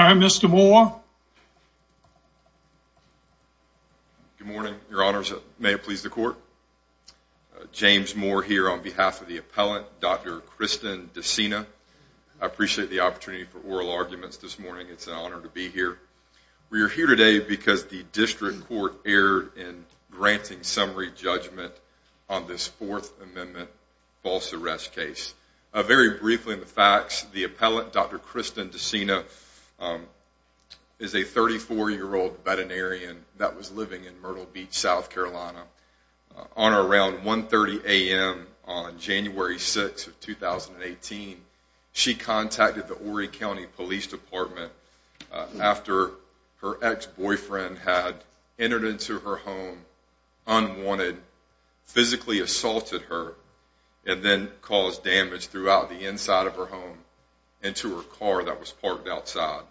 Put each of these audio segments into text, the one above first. Mr. Moore. Good morning, your honors. May it please the court. James Moore here on behalf of the appellant, Dr. Kristen Decina. I appreciate the opportunity for oral arguments this morning. It's an honor to be here. We are here today because the district court erred in granting summary judgment on the Fourth Amendment false arrest case. Very briefly in the facts, the appellant, Dr. Kristen Decina, is a 34-year-old veterinarian that was living in Myrtle Beach, South Carolina. On around 1.30 a.m. on January 6th of 2018, she contacted the Horry County Police Department after her ex-boyfriend had entered into her home unwanted, physically abusing her. She assaulted her and then caused damage throughout the inside of her home and to her car that was parked outside.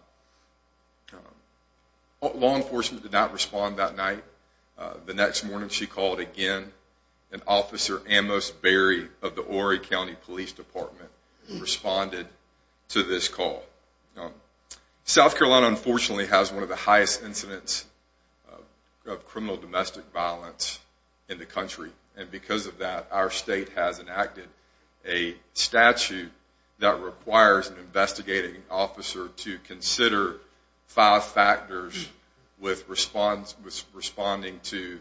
Law enforcement did not respond that night. The next morning she called again and Officer Amos Berry of the Horry County Police Department responded to this call. South Carolina unfortunately has one of the highest incidents of criminal domestic violence in the country and because of that our state has enacted a statute that requires an investigating officer to consider five factors with responding to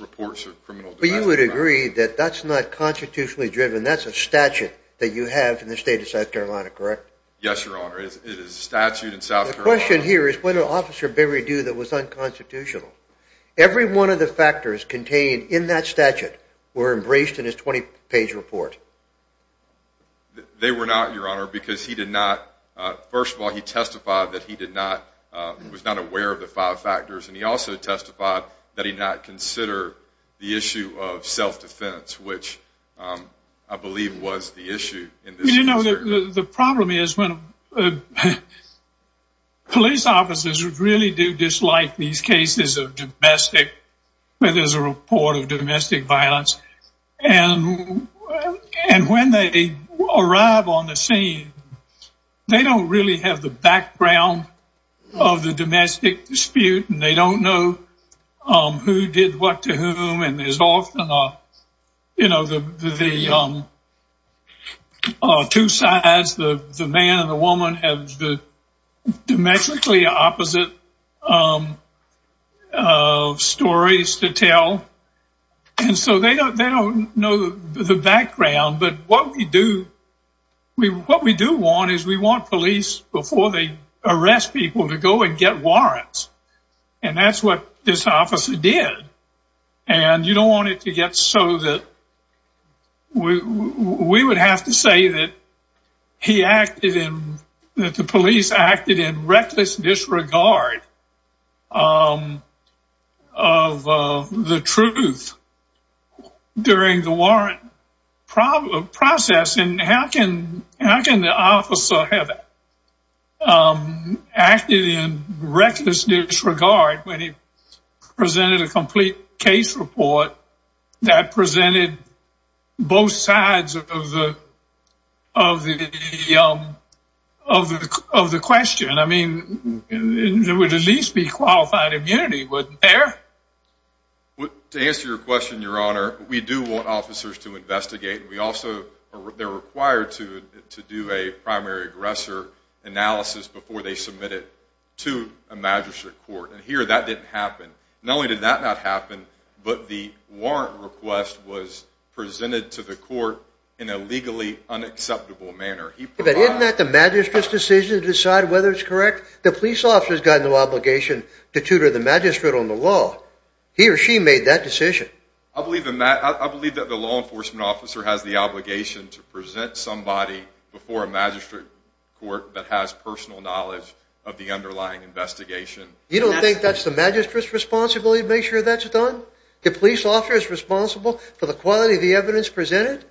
reports of criminal domestic violence. But you would agree that that's not constitutionally driven, that's a statute that you have in the state of South Carolina, correct? Yes, Your Honor. It is a statute in South Carolina. The question here is what did Officer Berry do that was unconstitutional? Every one of the factors contained in that statute were embraced in his 20-page report. They were not, Your Honor, because he did not, first of all he testified that he was not aware of the five factors and he also testified that he did not consider the issue of self-defense, which I believe was the issue. You know, the problem is when police officers really do dislike these cases of domestic, when there's a report of domestic violence and when they arrive on the scene they don't really have the background of the domestic dispute and they don't know who did what to whom and there's often a, you know, the two sides, the man and the woman have the domestically opposite stories to tell and so they don't know the background but what we do want is we want police before they arrest people to go and get warrants and that's what this officer did. And you don't want it to get so that we would have to say that he acted in, that the police acted in reckless disregard of the truth during the warrant process. And how can the officer have acted in reckless disregard when he presented a complete case report that presented both sides of the question? I mean, there would at least be qualified immunity, wouldn't there? To answer your question, Your Honor, we do want officers to investigate. We also, they're required to do a primary aggressor analysis before they submit it to a magistrate court and here that didn't happen. Not only did that not happen, but the warrant request was presented to the court in a legally unacceptable manner. But isn't that the magistrate's decision to decide whether it's correct? The police officer's got no obligation to tutor the magistrate on the law. He or she made that decision. I believe that the law enforcement officer has the obligation to present somebody before a magistrate court that has personal knowledge of the underlying investigation. You don't think that's the magistrate's responsibility to make sure that's done? The police officer is responsible for the quality of the evidence presented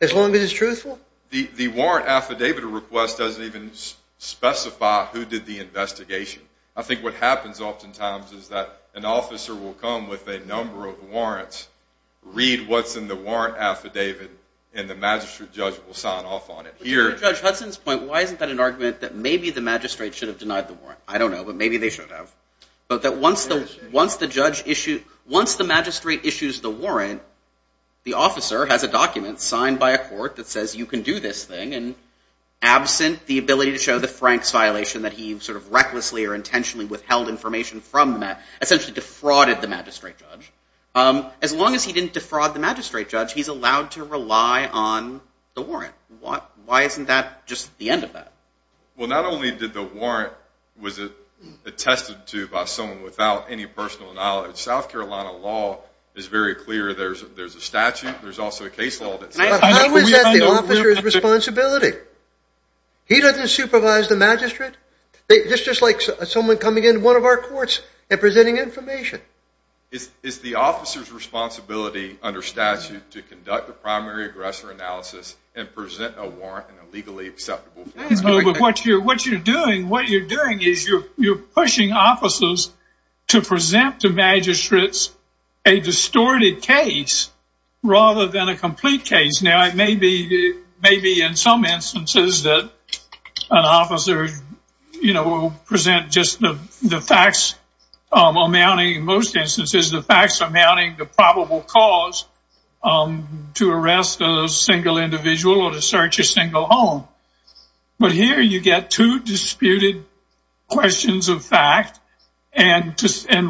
as long as it's truthful? The warrant affidavit request doesn't even specify who did the investigation. I think what happens oftentimes is that an officer will come with a number of warrants, read what's in the warrant affidavit, and the magistrate judge will sign off on it. To Judge Hudson's point, why isn't that an argument that maybe the magistrate should have denied the warrant? I don't know, but maybe they should have. But that once the magistrate issues the warrant, the officer has a document signed by a court that says you can do this thing and absent the ability to show the Frank's violation that he sort of recklessly or intentionally withheld information from the magistrate, essentially defrauded the magistrate judge. As long as he didn't defraud the magistrate judge, he's allowed to rely on the warrant. Why isn't that just the end of that? Well, not only did the warrant, was it attested to by someone without any personal knowledge? South Carolina law is very clear. There's a statute. There's also a case law. How is that the officer's responsibility? He doesn't supervise the magistrate? It's just like someone coming into one of our courts and presenting information. Is the officer's responsibility under statute to conduct the primary aggressor analysis and present a warrant in a legally acceptable form? What you're doing, what you're doing is you're pushing officers to present to magistrates a distorted case rather than a complete case. Now, it may be in some instances that an officer will present just the facts amounting, in most instances, the facts amounting to probable cause to arrest a single individual or to search a single home. But here you get two disputed questions of fact, and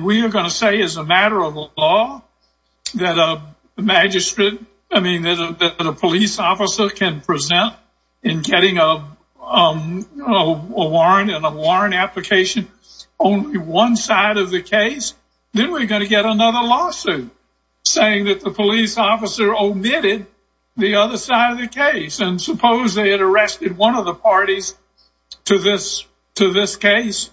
we are going to say as a matter of law that a magistrate, I mean, that a police officer can present in getting a warrant and a warrant application only one side of the case. Then we're going to get another lawsuit saying that the police officer omitted the other side of the case. And suppose they had arrested one of the parties to this case,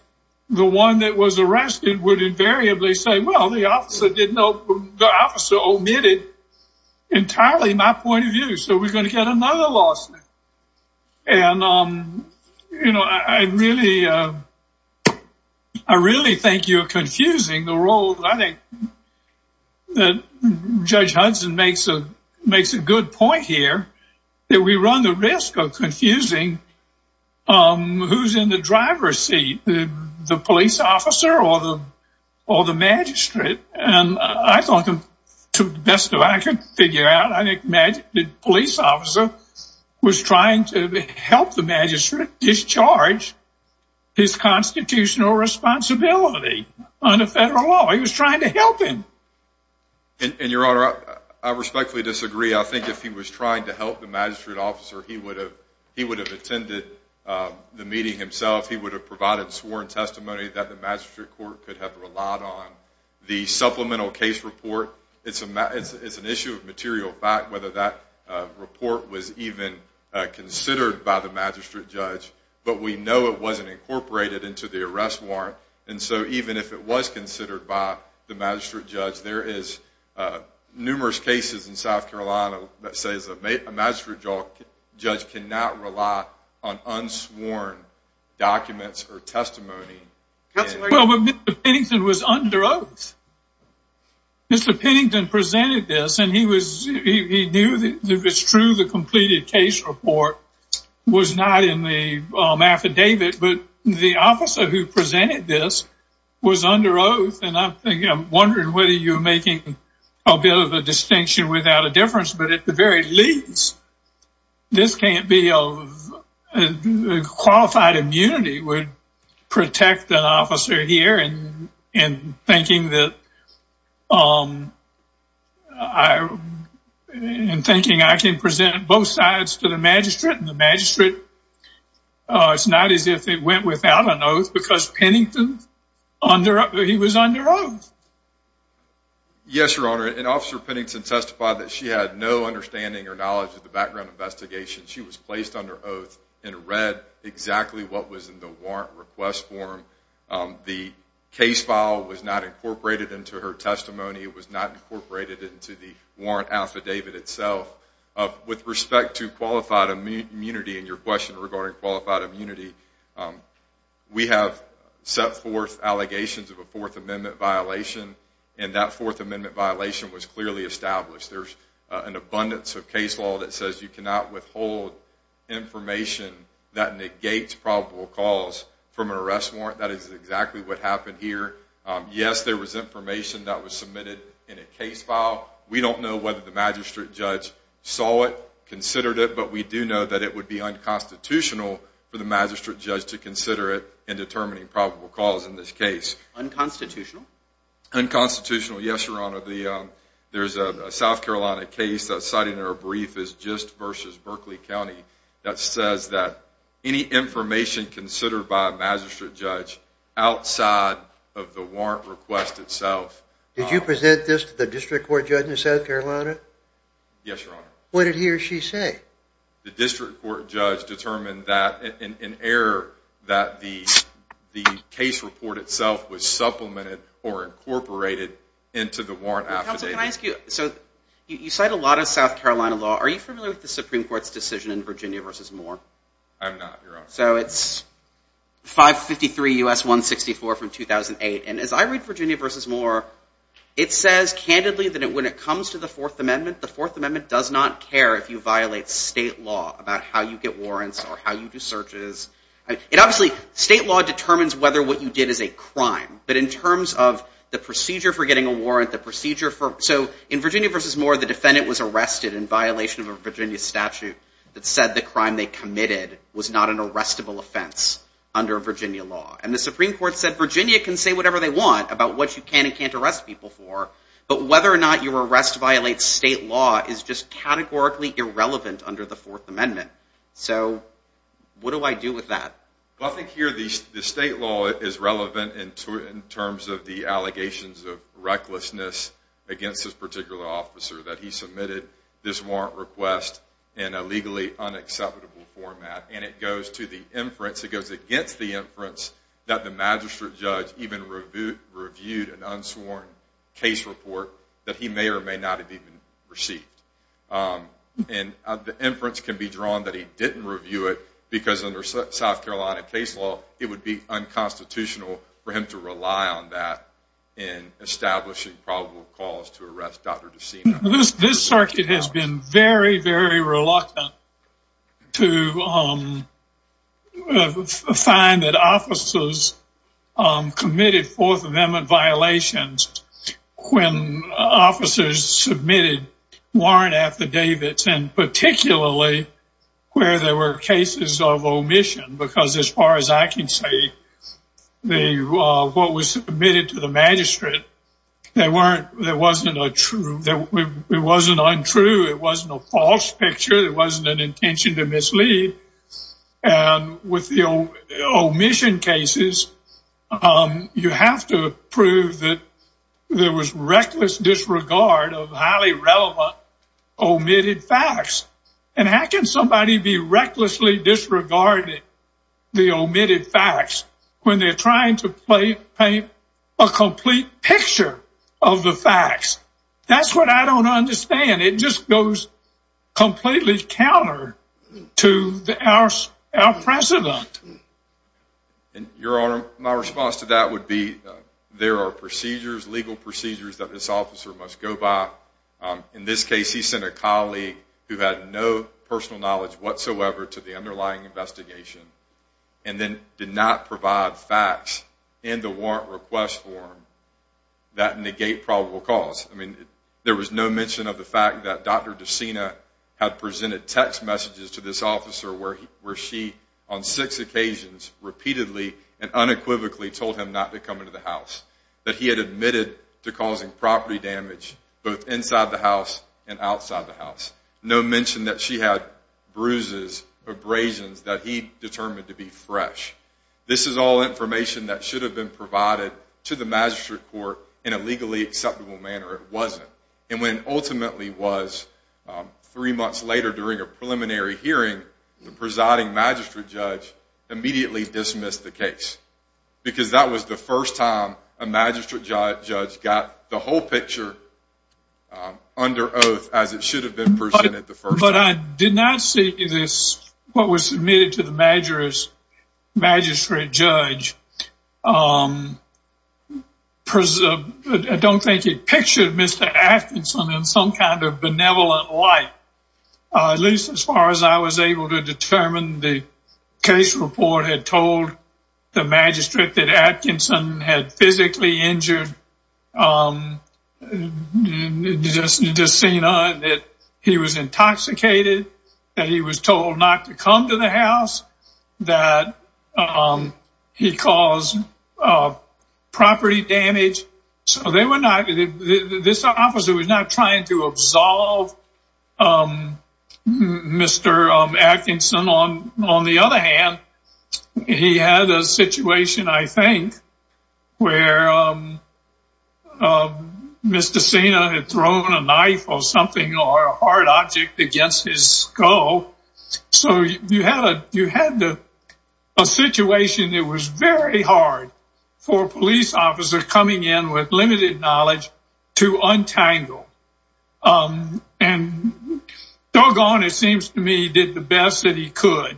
the one that was arrested would invariably say, well, the officer omitted entirely my point of view. So we're going to get another lawsuit. And, you know, I really, I really think you're confusing the role that I think that Judge Hudson makes a good point here that we run the risk of confusing who's in the driver's seat, the police officer or the magistrate. And I thought to the best of what I could figure out, I think the police officer was trying to help the magistrate discharge his constitutional responsibility under federal law. He was trying to help him. And, Your Honor, I respectfully disagree. I think if he was trying to help the magistrate officer, he would have attended the meeting himself. He would have provided sworn testimony that the magistrate court could have relied on. The supplemental case report, it's an issue of material fact whether that report was even considered by the magistrate judge. But we know it wasn't incorporated into the arrest warrant. And so even if it was considered by the magistrate judge, there is numerous cases in South Carolina that says a magistrate judge cannot rely on unsworn documents or testimony. Well, Mr. Pennington was under oath. Mr. Pennington presented this and he knew that it was true the completed case report was not in the affidavit. But the officer who presented this was under oath. And I'm wondering whether you're making a bit of a distinction without a difference. But at the very least, this can't be a qualified immunity would protect an officer here and thinking that I am thinking I can present both sides to the magistrate and the magistrate. It's not as if it went without an oath because Pennington, he was under oath. Yes, Your Honor. And Officer Pennington testified that she had no understanding or knowledge of the background investigation. She was placed under oath and read exactly what was in the warrant request form. The case file was not incorporated into her testimony. It was not incorporated into the warrant affidavit itself. With respect to qualified immunity and your question regarding qualified immunity, we have set forth allegations of a Fourth Amendment violation. And that Fourth Amendment violation was clearly established. There's an abundance of case law that says you cannot withhold information that negates probable cause from an arrest warrant. That is exactly what happened here. Yes, there was information that was submitted in a case file. We don't know whether the magistrate judge saw it, considered it, but we do know that it would be unconstitutional for the magistrate judge to consider it in determining probable cause in this case. Unconstitutional? Unconstitutional, yes, Your Honor. Did you present this to the district court judge in South Carolina? Yes, Your Honor. What did he or she say? The district court judge determined that in error that the case report itself was supplemented or incorporated into the warrant request. So you cite a lot of South Carolina law. Are you familiar with the Supreme Court's decision in Virginia v. Moore? I'm not, Your Honor. So it's 553 U.S. 164 from 2008. And as I read Virginia v. Moore, it says candidly that when it comes to the Fourth Amendment, the Fourth Amendment does not care if you violate state law about how you get warrants or how you do searches. Obviously, state law determines whether what you did is a crime. But in terms of the procedure for getting a warrant, the procedure for... So in Virginia v. Moore, the defendant was arrested in violation of a Virginia statute that said the crime they committed was not an arrestable offense under Virginia law. And the Supreme Court said Virginia can say whatever they want about what you can and can't arrest people for. But whether or not your arrest violates state law is just categorically irrelevant under the Fourth Amendment. So what do I do with that? Well, I think here the state law is relevant in terms of the allegations of recklessness against this particular officer that he submitted this warrant request in a legally unacceptable format. And it goes to the inference, it goes against the inference that the magistrate judge even reviewed an unsworn case report that he may or may not have even received. And the inference can be drawn that he didn't review it because under South Carolina case law, it would be unconstitutional for him to rely on that in establishing probable cause to arrest Dr. DeSena. This circuit has been very, very reluctant to find that officers committed Fourth Amendment violations when officers submitted warrant affidavits and particularly where there were cases of omission. Because as far as I can say, what was submitted to the magistrate, it wasn't untrue, it wasn't a false picture, it wasn't an intention to mislead. And with the omission cases, you have to prove that there was reckless disregard of highly relevant omitted facts. And how can somebody be recklessly disregarding the omitted facts when they're trying to paint a complete picture of the facts? That's what I don't understand. It just goes completely counter to our precedent. Your Honor, my response to that would be there are procedures, legal procedures that this officer must go by. In this case, he sent a colleague who had no personal knowledge whatsoever to the underlying investigation and then did not provide facts in the warrant request form that negate probable cause. I mean, there was no mention of the fact that Dr. DeSena had presented text messages to this officer where she, on six occasions, repeatedly and unequivocally told him not to come into the house, that he had admitted to causing property damage both inside the house and outside the house. No mention that she had bruises, abrasions that he determined to be fresh. This is all information that should have been provided to the magistrate court in a legally acceptable manner. It wasn't. And when it ultimately was three months later during a preliminary hearing, the presiding magistrate judge immediately dismissed the case because that was the first time a magistrate judge got the whole picture under oath as it should have been presented the first time. But I did not see this, what was submitted to the magistrate judge, I don't think it pictured Mr. Atkinson in some kind of benevolent light, at least as far as I was able to determine. The case report had told the magistrate that Atkinson had physically injured DeSena, that he was intoxicated, that he was told not to come to the house, that he caused property damage. So this officer was not trying to absolve Mr. Atkinson. On the other hand, he had a situation, I think, where Mr. DeSena had thrown a knife or something or a hard object against his skull. So you had a situation that was very hard for a police officer coming in with limited knowledge to untangle. And doggone, it seems to me, he did the best that he could.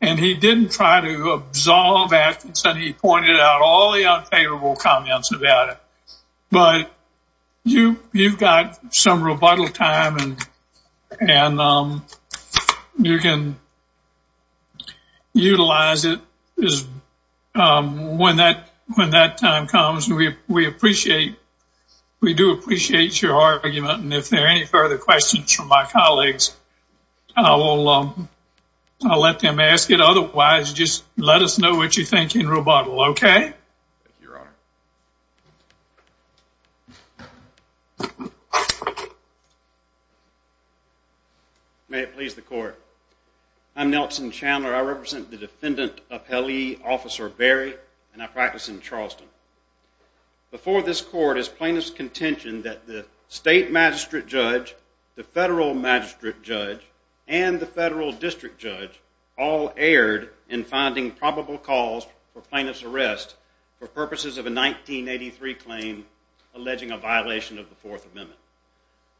And he didn't try to absolve Atkinson, he pointed out all the unfavorable comments about it. But you've got some rebuttal time and you can utilize it when that time comes. We do appreciate your argument, and if there are any further questions from my colleagues, I'll let them ask it. Otherwise, just let us know what you think in rebuttal, okay? Thank you, Your Honor. May it please the Court. I'm Nelson Chandler. I represent the defendant appellee, Officer Berry, and I practice in Charleston. Before this Court is plaintiff's contention that the state magistrate judge, the federal magistrate judge, and the federal district judge all erred in finding probable cause for plaintiff's arrest for purposes of a 1983 claim alleging a violation of the Fourth Amendment.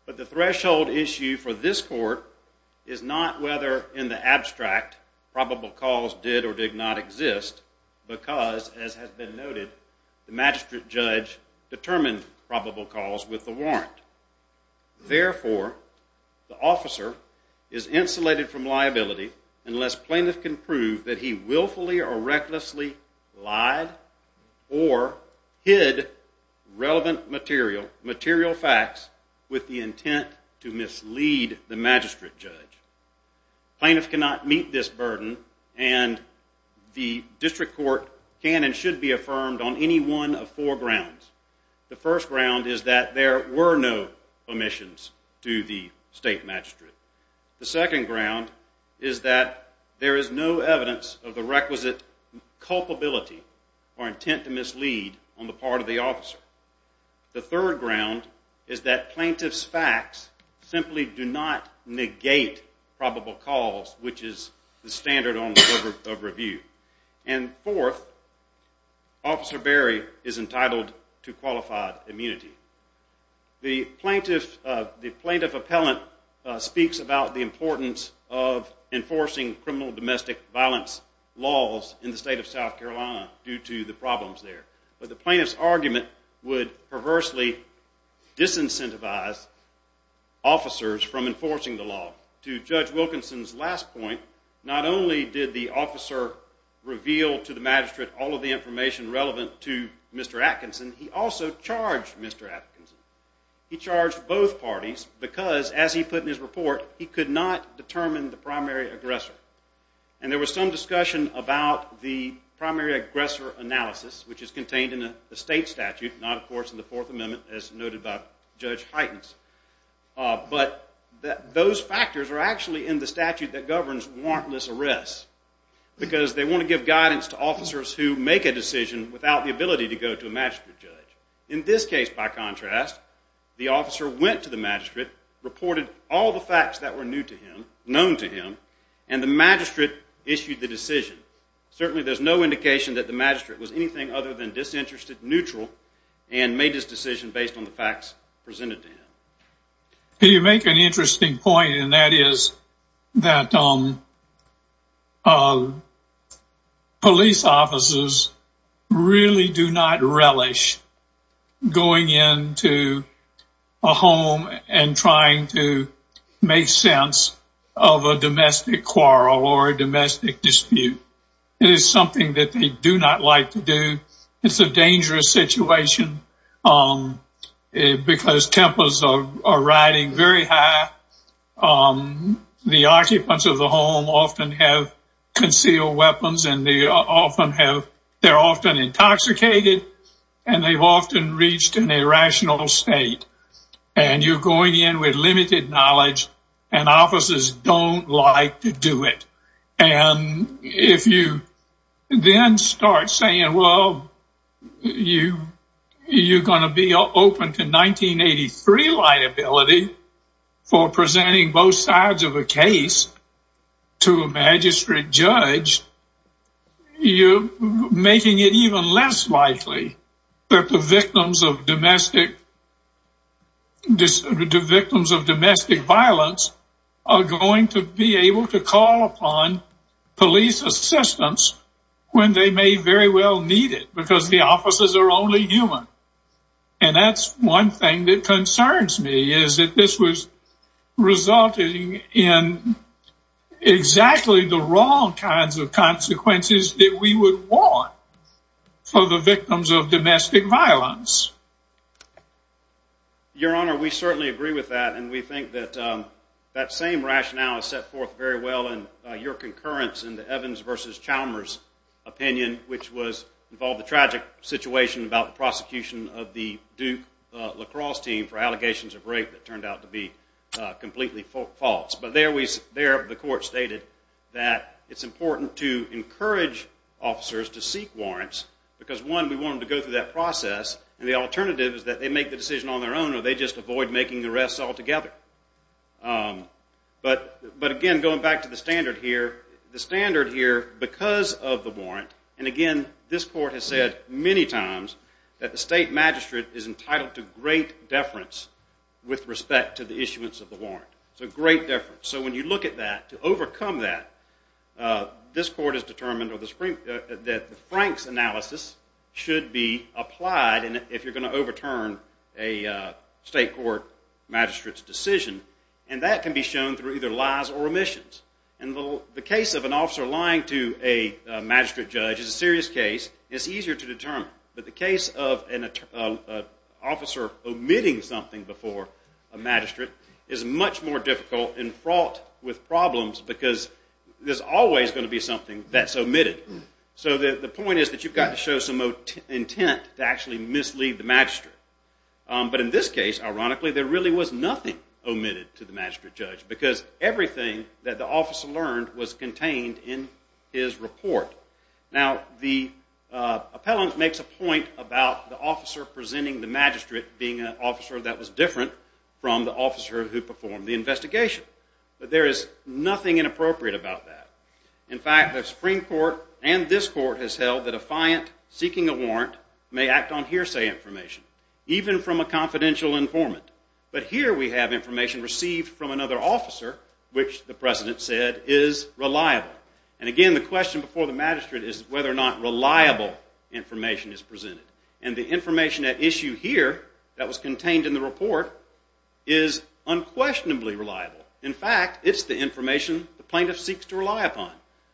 But the threshold issue for this Court is not whether in the abstract probable cause did or did not exist because, as has been noted, the magistrate judge determined probable cause with the warrant. Therefore, the officer is insulated from liability unless plaintiff can prove that he willfully or recklessly lied or hid relevant material, material facts, with the intent to mislead the magistrate judge. Plaintiff cannot meet this burden, and the district court can and should be affirmed on any one of four grounds. The first ground is that there were no omissions to the state magistrate. The second ground is that there is no evidence of the requisite culpability or intent to mislead on the part of the officer. The third ground is that plaintiff's facts simply do not negate probable cause, which is the standard of review. And fourth, Officer Berry is entitled to qualified immunity. The plaintiff appellant speaks about the importance of enforcing criminal domestic violence laws in the state of South Carolina due to the problems there, but the plaintiff's argument would perversely disincentivize officers from enforcing the law. To Judge Wilkinson's last point, not only did the officer reveal to the magistrate all of the information relevant to Mr. Atkinson, he also charged Mr. Atkinson. He charged both parties because, as he put in his report, he could not determine the primary aggressor. And there was some discussion about the primary aggressor analysis, which is contained in the state statute, not, of course, in the Fourth Amendment, as noted by Judge Heitens. But those factors are actually in the statute that governs warrantless arrests because they want to give guidance to officers who make a decision without the ability to go to a magistrate judge. In this case, by contrast, the officer went to the magistrate, reported all the facts that were known to him, and the magistrate issued the decision. Certainly, there's no indication that the magistrate was anything other than disinterested, neutral, and made his decision based on the facts presented to him. You make an interesting point, and that is that police officers really do not relish going into a home and trying to make sense of a domestic quarrel or a domestic dispute. It is something that they do not like to do. It's a dangerous situation because tempers are riding very high. The occupants of the home often have concealed weapons, and they're often intoxicated, and they've often reached an irrational state. You're going in with limited knowledge, and officers don't like to do it. If you then start saying, well, you're going to be open to 1983 liability for presenting both sides of a case to a magistrate judge, you're making it even less likely that the victims of domestic violence are going to be able to call upon police assistance when they may very well need it, because the officers are only human. And that's one thing that concerns me, is that this was resulting in exactly the wrong kinds of consequences that we would want for the victims of domestic violence. Your Honor, we certainly agree with that, and we think that that same rationale is set forth very well in your concurrence in the Evans v. Chalmers opinion, which involved the tragic situation about the prosecution of the Duke lacrosse team for allegations of rape that turned out to be completely false. But there, the court stated that it's important to encourage officers to seek warrants, because one, we want them to go through that process, and the alternative is that they make the decision on their own, or they just avoid making arrests altogether. But again, going back to the standard here, the standard here, because of the warrant, and again, this court has said many times that the state magistrate is entitled to great deference with respect to the issuance of the warrant. So great deference. So when you look at that, to overcome that, this court has determined that the Franks analysis should be applied if you're going to overturn a state court magistrate's decision, and that can be shown through either lies or omissions. And the case of an officer lying to a magistrate judge is a serious case. It's easier to determine. But the case of an officer omitting something before a magistrate is much more difficult and fraught with problems, because there's always going to be something that's omitted. So the point is that you've got to show some intent to actually mislead the magistrate. But in this case, ironically, there really was nothing omitted to the magistrate judge, because everything that the officer learned was contained in his report. Now, the appellant makes a point about the officer presenting the magistrate being an officer that was different from the officer who performed the investigation. But there is nothing inappropriate about that. In fact, the Supreme Court and this court has held that a fiant seeking a warrant may act on hearsay information, even from a confidential informant. But here we have information received from another officer, which the president said is reliable. And again, the question before the magistrate is whether or not reliable information is presented. And the information at issue here that was contained in the report is unquestionably reliable. In fact, it's the information the plaintiff seeks to rely upon.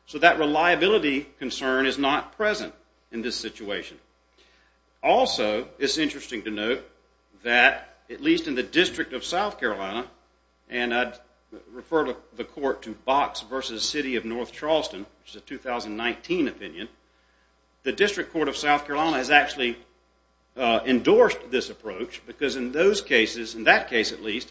So that reliability concern is not present in this situation. Also, it's interesting to note that at least in the District of South Carolina, and I'd refer the court to Box v. City of North Charleston, which is a 2019 opinion, the District Court of South Carolina has actually endorsed this approach, because in those cases, in that case at least,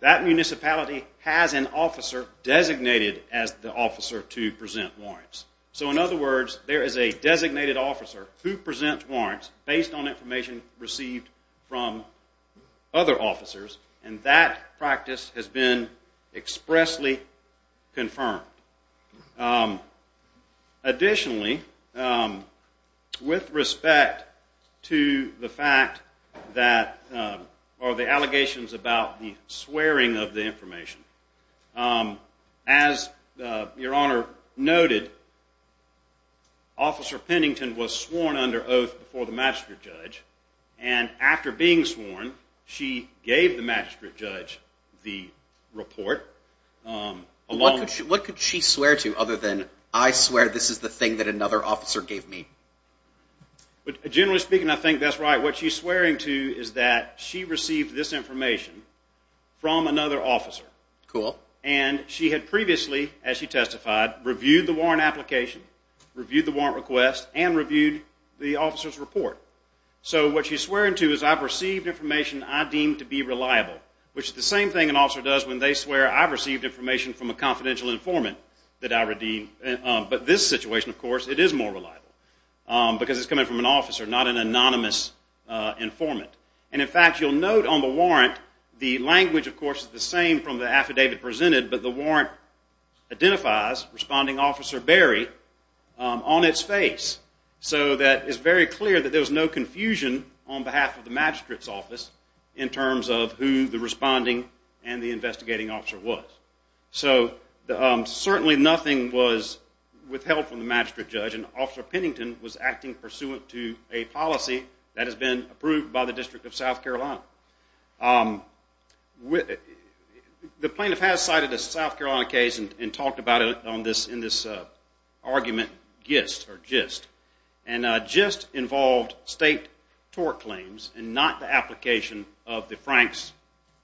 that municipality has an officer designated as the officer to present warrants. So in other words, there is a designated officer who presents warrants based on information received from other officers, and that practice has been expressly confirmed. Additionally, with respect to the fact that, or the allegations about the swearing of the information, as Your Honor noted, Officer Pennington was sworn under oath before the magistrate judge, and after being sworn, she gave the magistrate judge the report. What could she swear to other than, I swear this is the thing that another officer gave me? Generally speaking, I think that's right. What she's swearing to is that she received this information from another officer. Cool. And she had previously, as she testified, reviewed the warrant application, reviewed the warrant request, and reviewed the officer's report. So what she's swearing to is I've received information I deem to be reliable, which is the same thing an officer does when they swear I've received information from a confidential informant that I redeem. But this situation, of course, it is more reliable, because it's coming from an officer, not an anonymous informant. And in fact, you'll note on the warrant, the language, of course, is the same from the affidavit presented, but the warrant identifies Responding Officer Berry on its face. So that it's very clear that there was no confusion on behalf of the magistrate's office in terms of who the responding and the investigating officer was. So certainly nothing was withheld from the magistrate judge, and Officer Pennington was acting pursuant to a policy that has been approved by the District of South Carolina. The plaintiff has cited a South Carolina case and talked about it in this argument, GIST. And GIST involved state tort claims and not the application of the Franks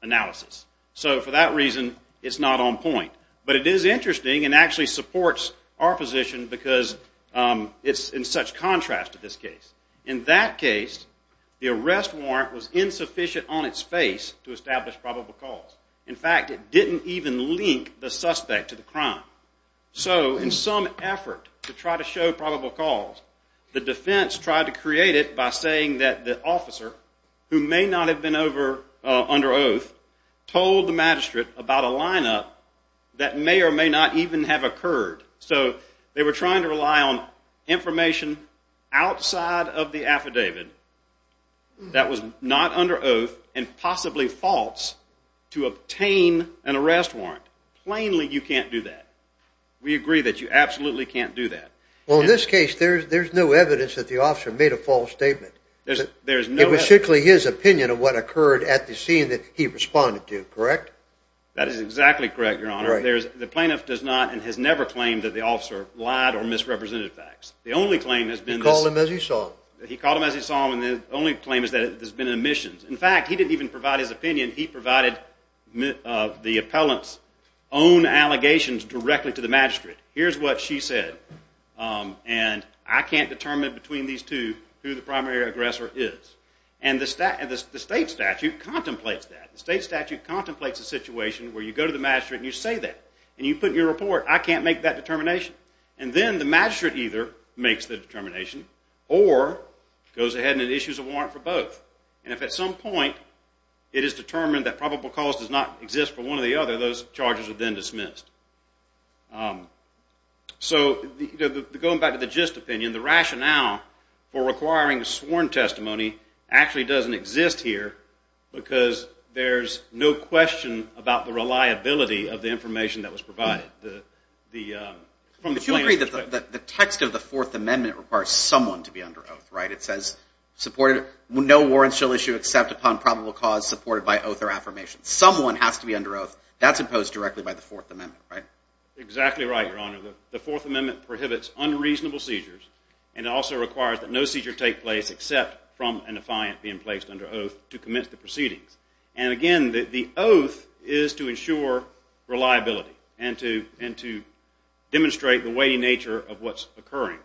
analysis. So for that reason, it's not on point. But it is interesting and actually supports our position because it's in such contrast to this case. In that case, the arrest warrant was insufficient on its face to establish probable cause. In fact, it didn't even link the suspect to the crime. So in some effort to try to show probable cause, the defense tried to create it by saying that the officer, who may not have been under oath, told the magistrate about a lineup that may or may not even have occurred. So they were trying to rely on information outside of the affidavit that was not under oath and possibly false to obtain an arrest warrant. Plainly, you can't do that. We agree that you absolutely can't do that. Well, in this case, there's no evidence that the officer made a false statement. It was simply his opinion of what occurred at the scene that he responded to, correct? That is exactly correct, Your Honor. The plaintiff does not and has never claimed that the officer lied or misrepresented facts. He called him as he saw him. He called him as he saw him, and the only claim is that there's been an omission. In fact, he didn't even provide his opinion. He provided the appellant's own allegations directly to the magistrate. Here's what she said. And I can't determine between these two who the primary aggressor is. And the state statute contemplates that. The state statute contemplates a situation where you go to the magistrate and you say that. And you put in your report, I can't make that determination. And then the magistrate either makes the determination or goes ahead and issues a warrant for both. And if at some point it is determined that probable cause does not exist for one or the other, those charges are then dismissed. So going back to the gist opinion, the rationale for requiring sworn testimony actually doesn't exist here because there's no question about the reliability of the information that was provided from the plaintiff's perspective. But you agree that the text of the Fourth Amendment requires someone to be under oath, right? No warrants shall issue except upon probable cause supported by oath or affirmation. Someone has to be under oath. That's imposed directly by the Fourth Amendment, right? Exactly right, Your Honor. The Fourth Amendment prohibits unreasonable seizures. And it also requires that no seizures take place except from a defiant being placed under oath to commence the proceedings. And again, the oath is to ensure reliability and to demonstrate the weighty nature of what's occurring.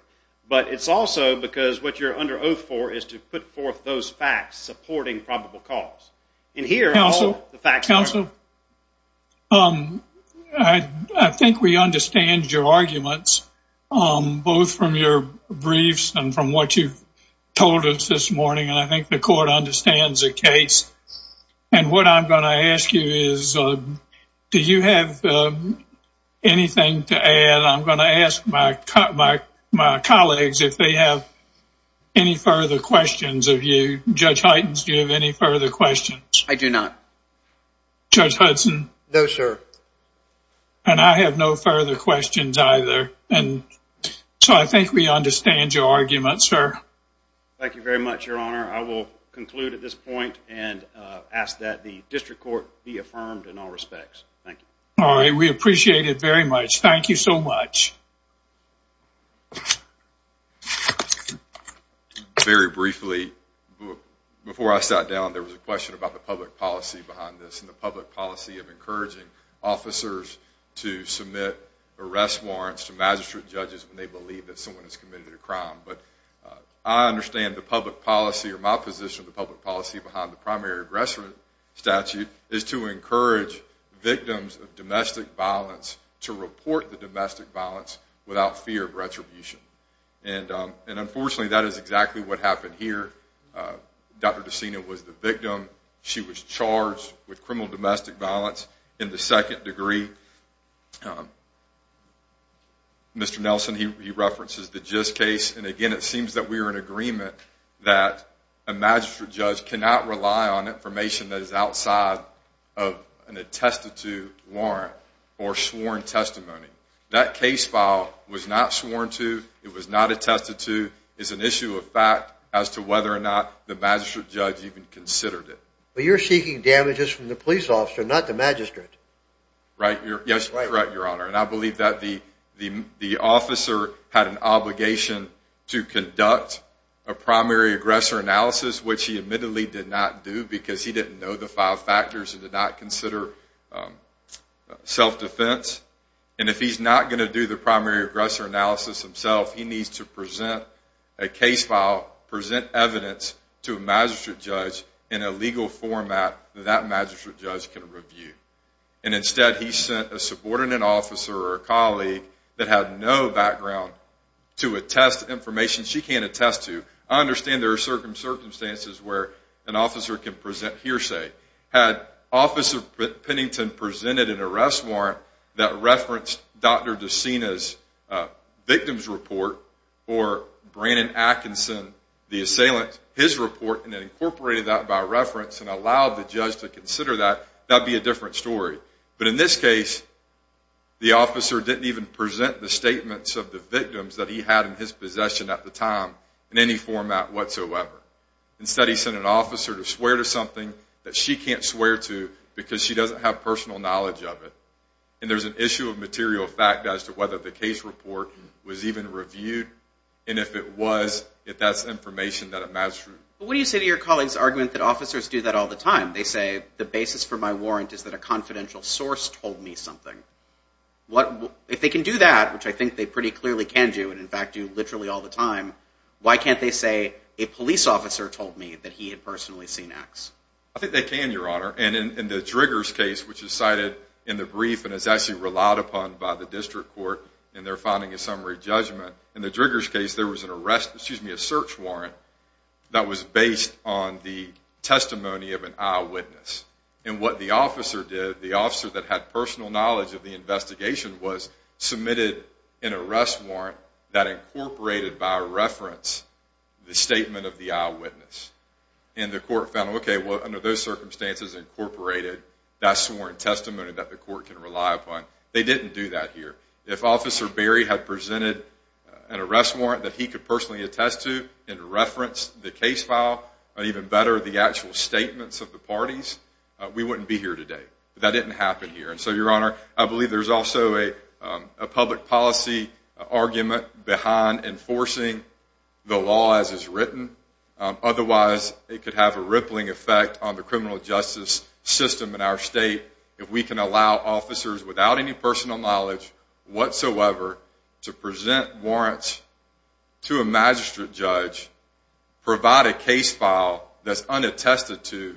But it's also because what you're under oath for is to put forth those facts supporting probable cause. Counsel, I think we understand your arguments both from your briefs and from what you've told us this morning. And I think the court understands the case. And what I'm going to ask you is, do you have anything to add? And I'm going to ask my colleagues if they have any further questions of you. Judge Hytens, do you have any further questions? I do not. Judge Hudson? No, sir. And I have no further questions either. And so I think we understand your argument, sir. Thank you very much, Your Honor. I will conclude at this point and ask that the district court be affirmed in all respects. Thank you. All right. We appreciate it very much. Thank you so much. Very briefly, before I sat down, there was a question about the public policy behind this and the public policy of encouraging officers to submit arrest warrants to magistrate judges when they believe that someone has committed a crime. But I understand the public policy, or my position of the public policy, behind the primary arrest statute is to encourage victims of domestic violence to report the domestic violence without fear of retribution. And unfortunately, that is exactly what happened here. Dr. DeSena was the victim. She was charged with criminal domestic violence in the second degree. Mr. Nelson, he references the GIST case. And again, it seems that we are in agreement that a magistrate judge cannot rely on information that is outside of an attested to warrant or sworn testimony. That case file was not sworn to. It was not attested to. It's an issue of fact as to whether or not the magistrate judge even considered it. But you're seeking damages from the police officer, not the magistrate. Right. Yes, correct, Your Honor. And I believe that the officer had an obligation to conduct a primary aggressor analysis, which he admittedly did not do because he didn't know the five factors and did not consider self-defense. And if he's not going to do the primary aggressor analysis himself, he needs to present a case file, present evidence to a magistrate judge in a legal format that that magistrate judge can review. And instead, he sent a subordinate officer or a colleague that had no background to attest to information she can't attest to. I understand there are circumstances where an officer can present hearsay. Had Officer Pennington presented an arrest warrant that referenced Dr. DeSena's victim's report or Brandon Atkinson, the assailant, his report, and incorporated that by reference and allowed the judge to consider that, that would be a different story. But in this case, the officer didn't even present the statements of the victims that he had in his possession at the time in any format whatsoever. Instead, he sent an officer to swear to something that she can't swear to because she doesn't have personal knowledge of it. And there's an issue of material fact as to whether the case report was even reviewed, and if it was, if that's information that a magistrate... What do you say to your colleague's argument that officers do that all the time? They say the basis for my warrant is that a confidential source told me something. If they can do that, which I think they pretty clearly can do, and in fact do literally all the time, why can't they say a police officer told me that he had personally seen X? I think they can, Your Honor. And in the Driggers case, which is cited in the brief and is actually relied upon by the district court in their finding of summary judgment, in the Driggers case, there was an arrest, excuse me, a search warrant that was based on the testimony of an eyewitness. And what the officer did, the officer that had personal knowledge of the investigation, was submitted an arrest warrant that incorporated by reference the statement of the eyewitness. And the court found, okay, well, under those circumstances, incorporated that sworn testimony that the court can rely upon. They didn't do that here. If Officer Berry had presented an arrest warrant that he could personally attest to and reference the case file, or even better, the actual statements of the parties, we wouldn't be here today. That didn't happen here. And so, Your Honor, I believe there's also a public policy argument behind enforcing the law as it's written. Otherwise, it could have a rippling effect on the criminal justice system in our state if we can allow officers without any personal knowledge whatsoever to present warrants to a magistrate judge, provide a case file that's unattested to,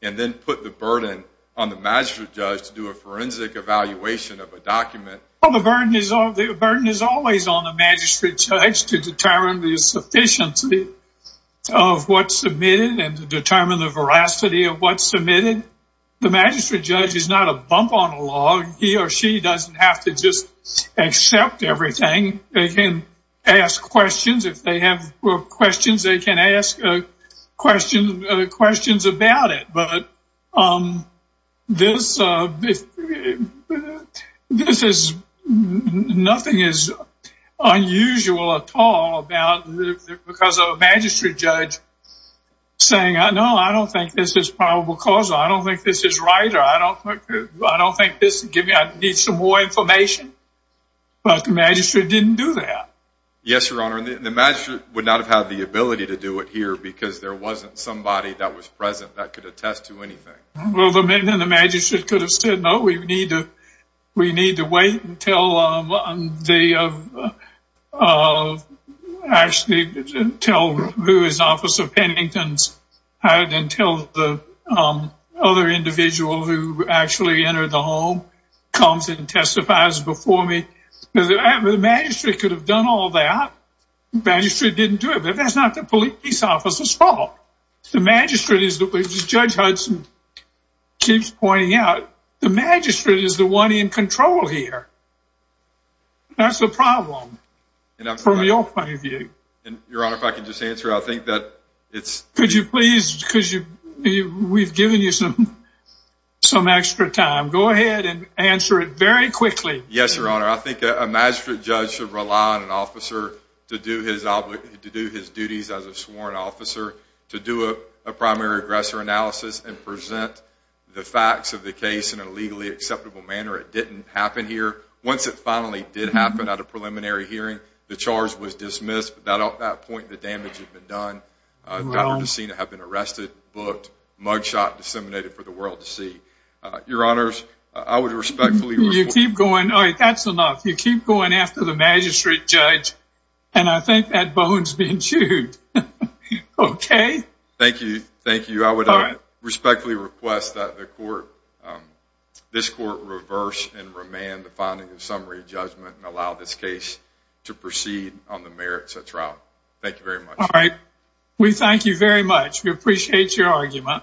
and then put the burden on the magistrate judge to do a forensic evaluation of a document. The burden is always on the magistrate judge to determine the sufficiency of what's submitted and to determine the veracity of what's submitted. The magistrate judge is not a bump on a log. He or she doesn't have to just accept everything. They can ask questions. If they have questions, they can ask questions about it. But this is nothing unusual at all because of a magistrate judge saying, No, I don't think this is probable cause. I don't think this is right. I don't think this gives me some more information. But the magistrate didn't do that. Yes, Your Honor, and the magistrate would not have had the ability to do it here because there wasn't somebody that was present that could attest to anything. Well, then the magistrate could have said, No, we need to wait until the other individual who actually entered the home comes and testifies before me. The magistrate could have done all that. The magistrate didn't do it. But that's not the police officer's fault. Judge Hudson keeps pointing out, the magistrate is the one in control here. That's the problem from your point of view. Your Honor, if I could just answer, I think that it's... Could you please? We've given you some extra time. Go ahead and answer it very quickly. Yes, Your Honor, I think a magistrate judge should rely on an officer to do his duties as a sworn officer, to do a primary aggressor analysis and present the facts of the case in a legally acceptable manner. It didn't happen here. Once it finally did happen at a preliminary hearing, the charge was dismissed. At that point, the damage had been done. Dr. DeSena had been arrested, booked, mug shot, disseminated for the world to see. Your Honors, I would respectfully... You keep going. All right, that's enough. You keep going after the magistrate judge. And I think that bone's been chewed. Okay? Thank you. Thank you. I would respectfully request that this court reverse and remand the finding of summary judgment and allow this case to proceed on the merits of trial. Thank you very much. All right. We thank you very much. We appreciate your argument.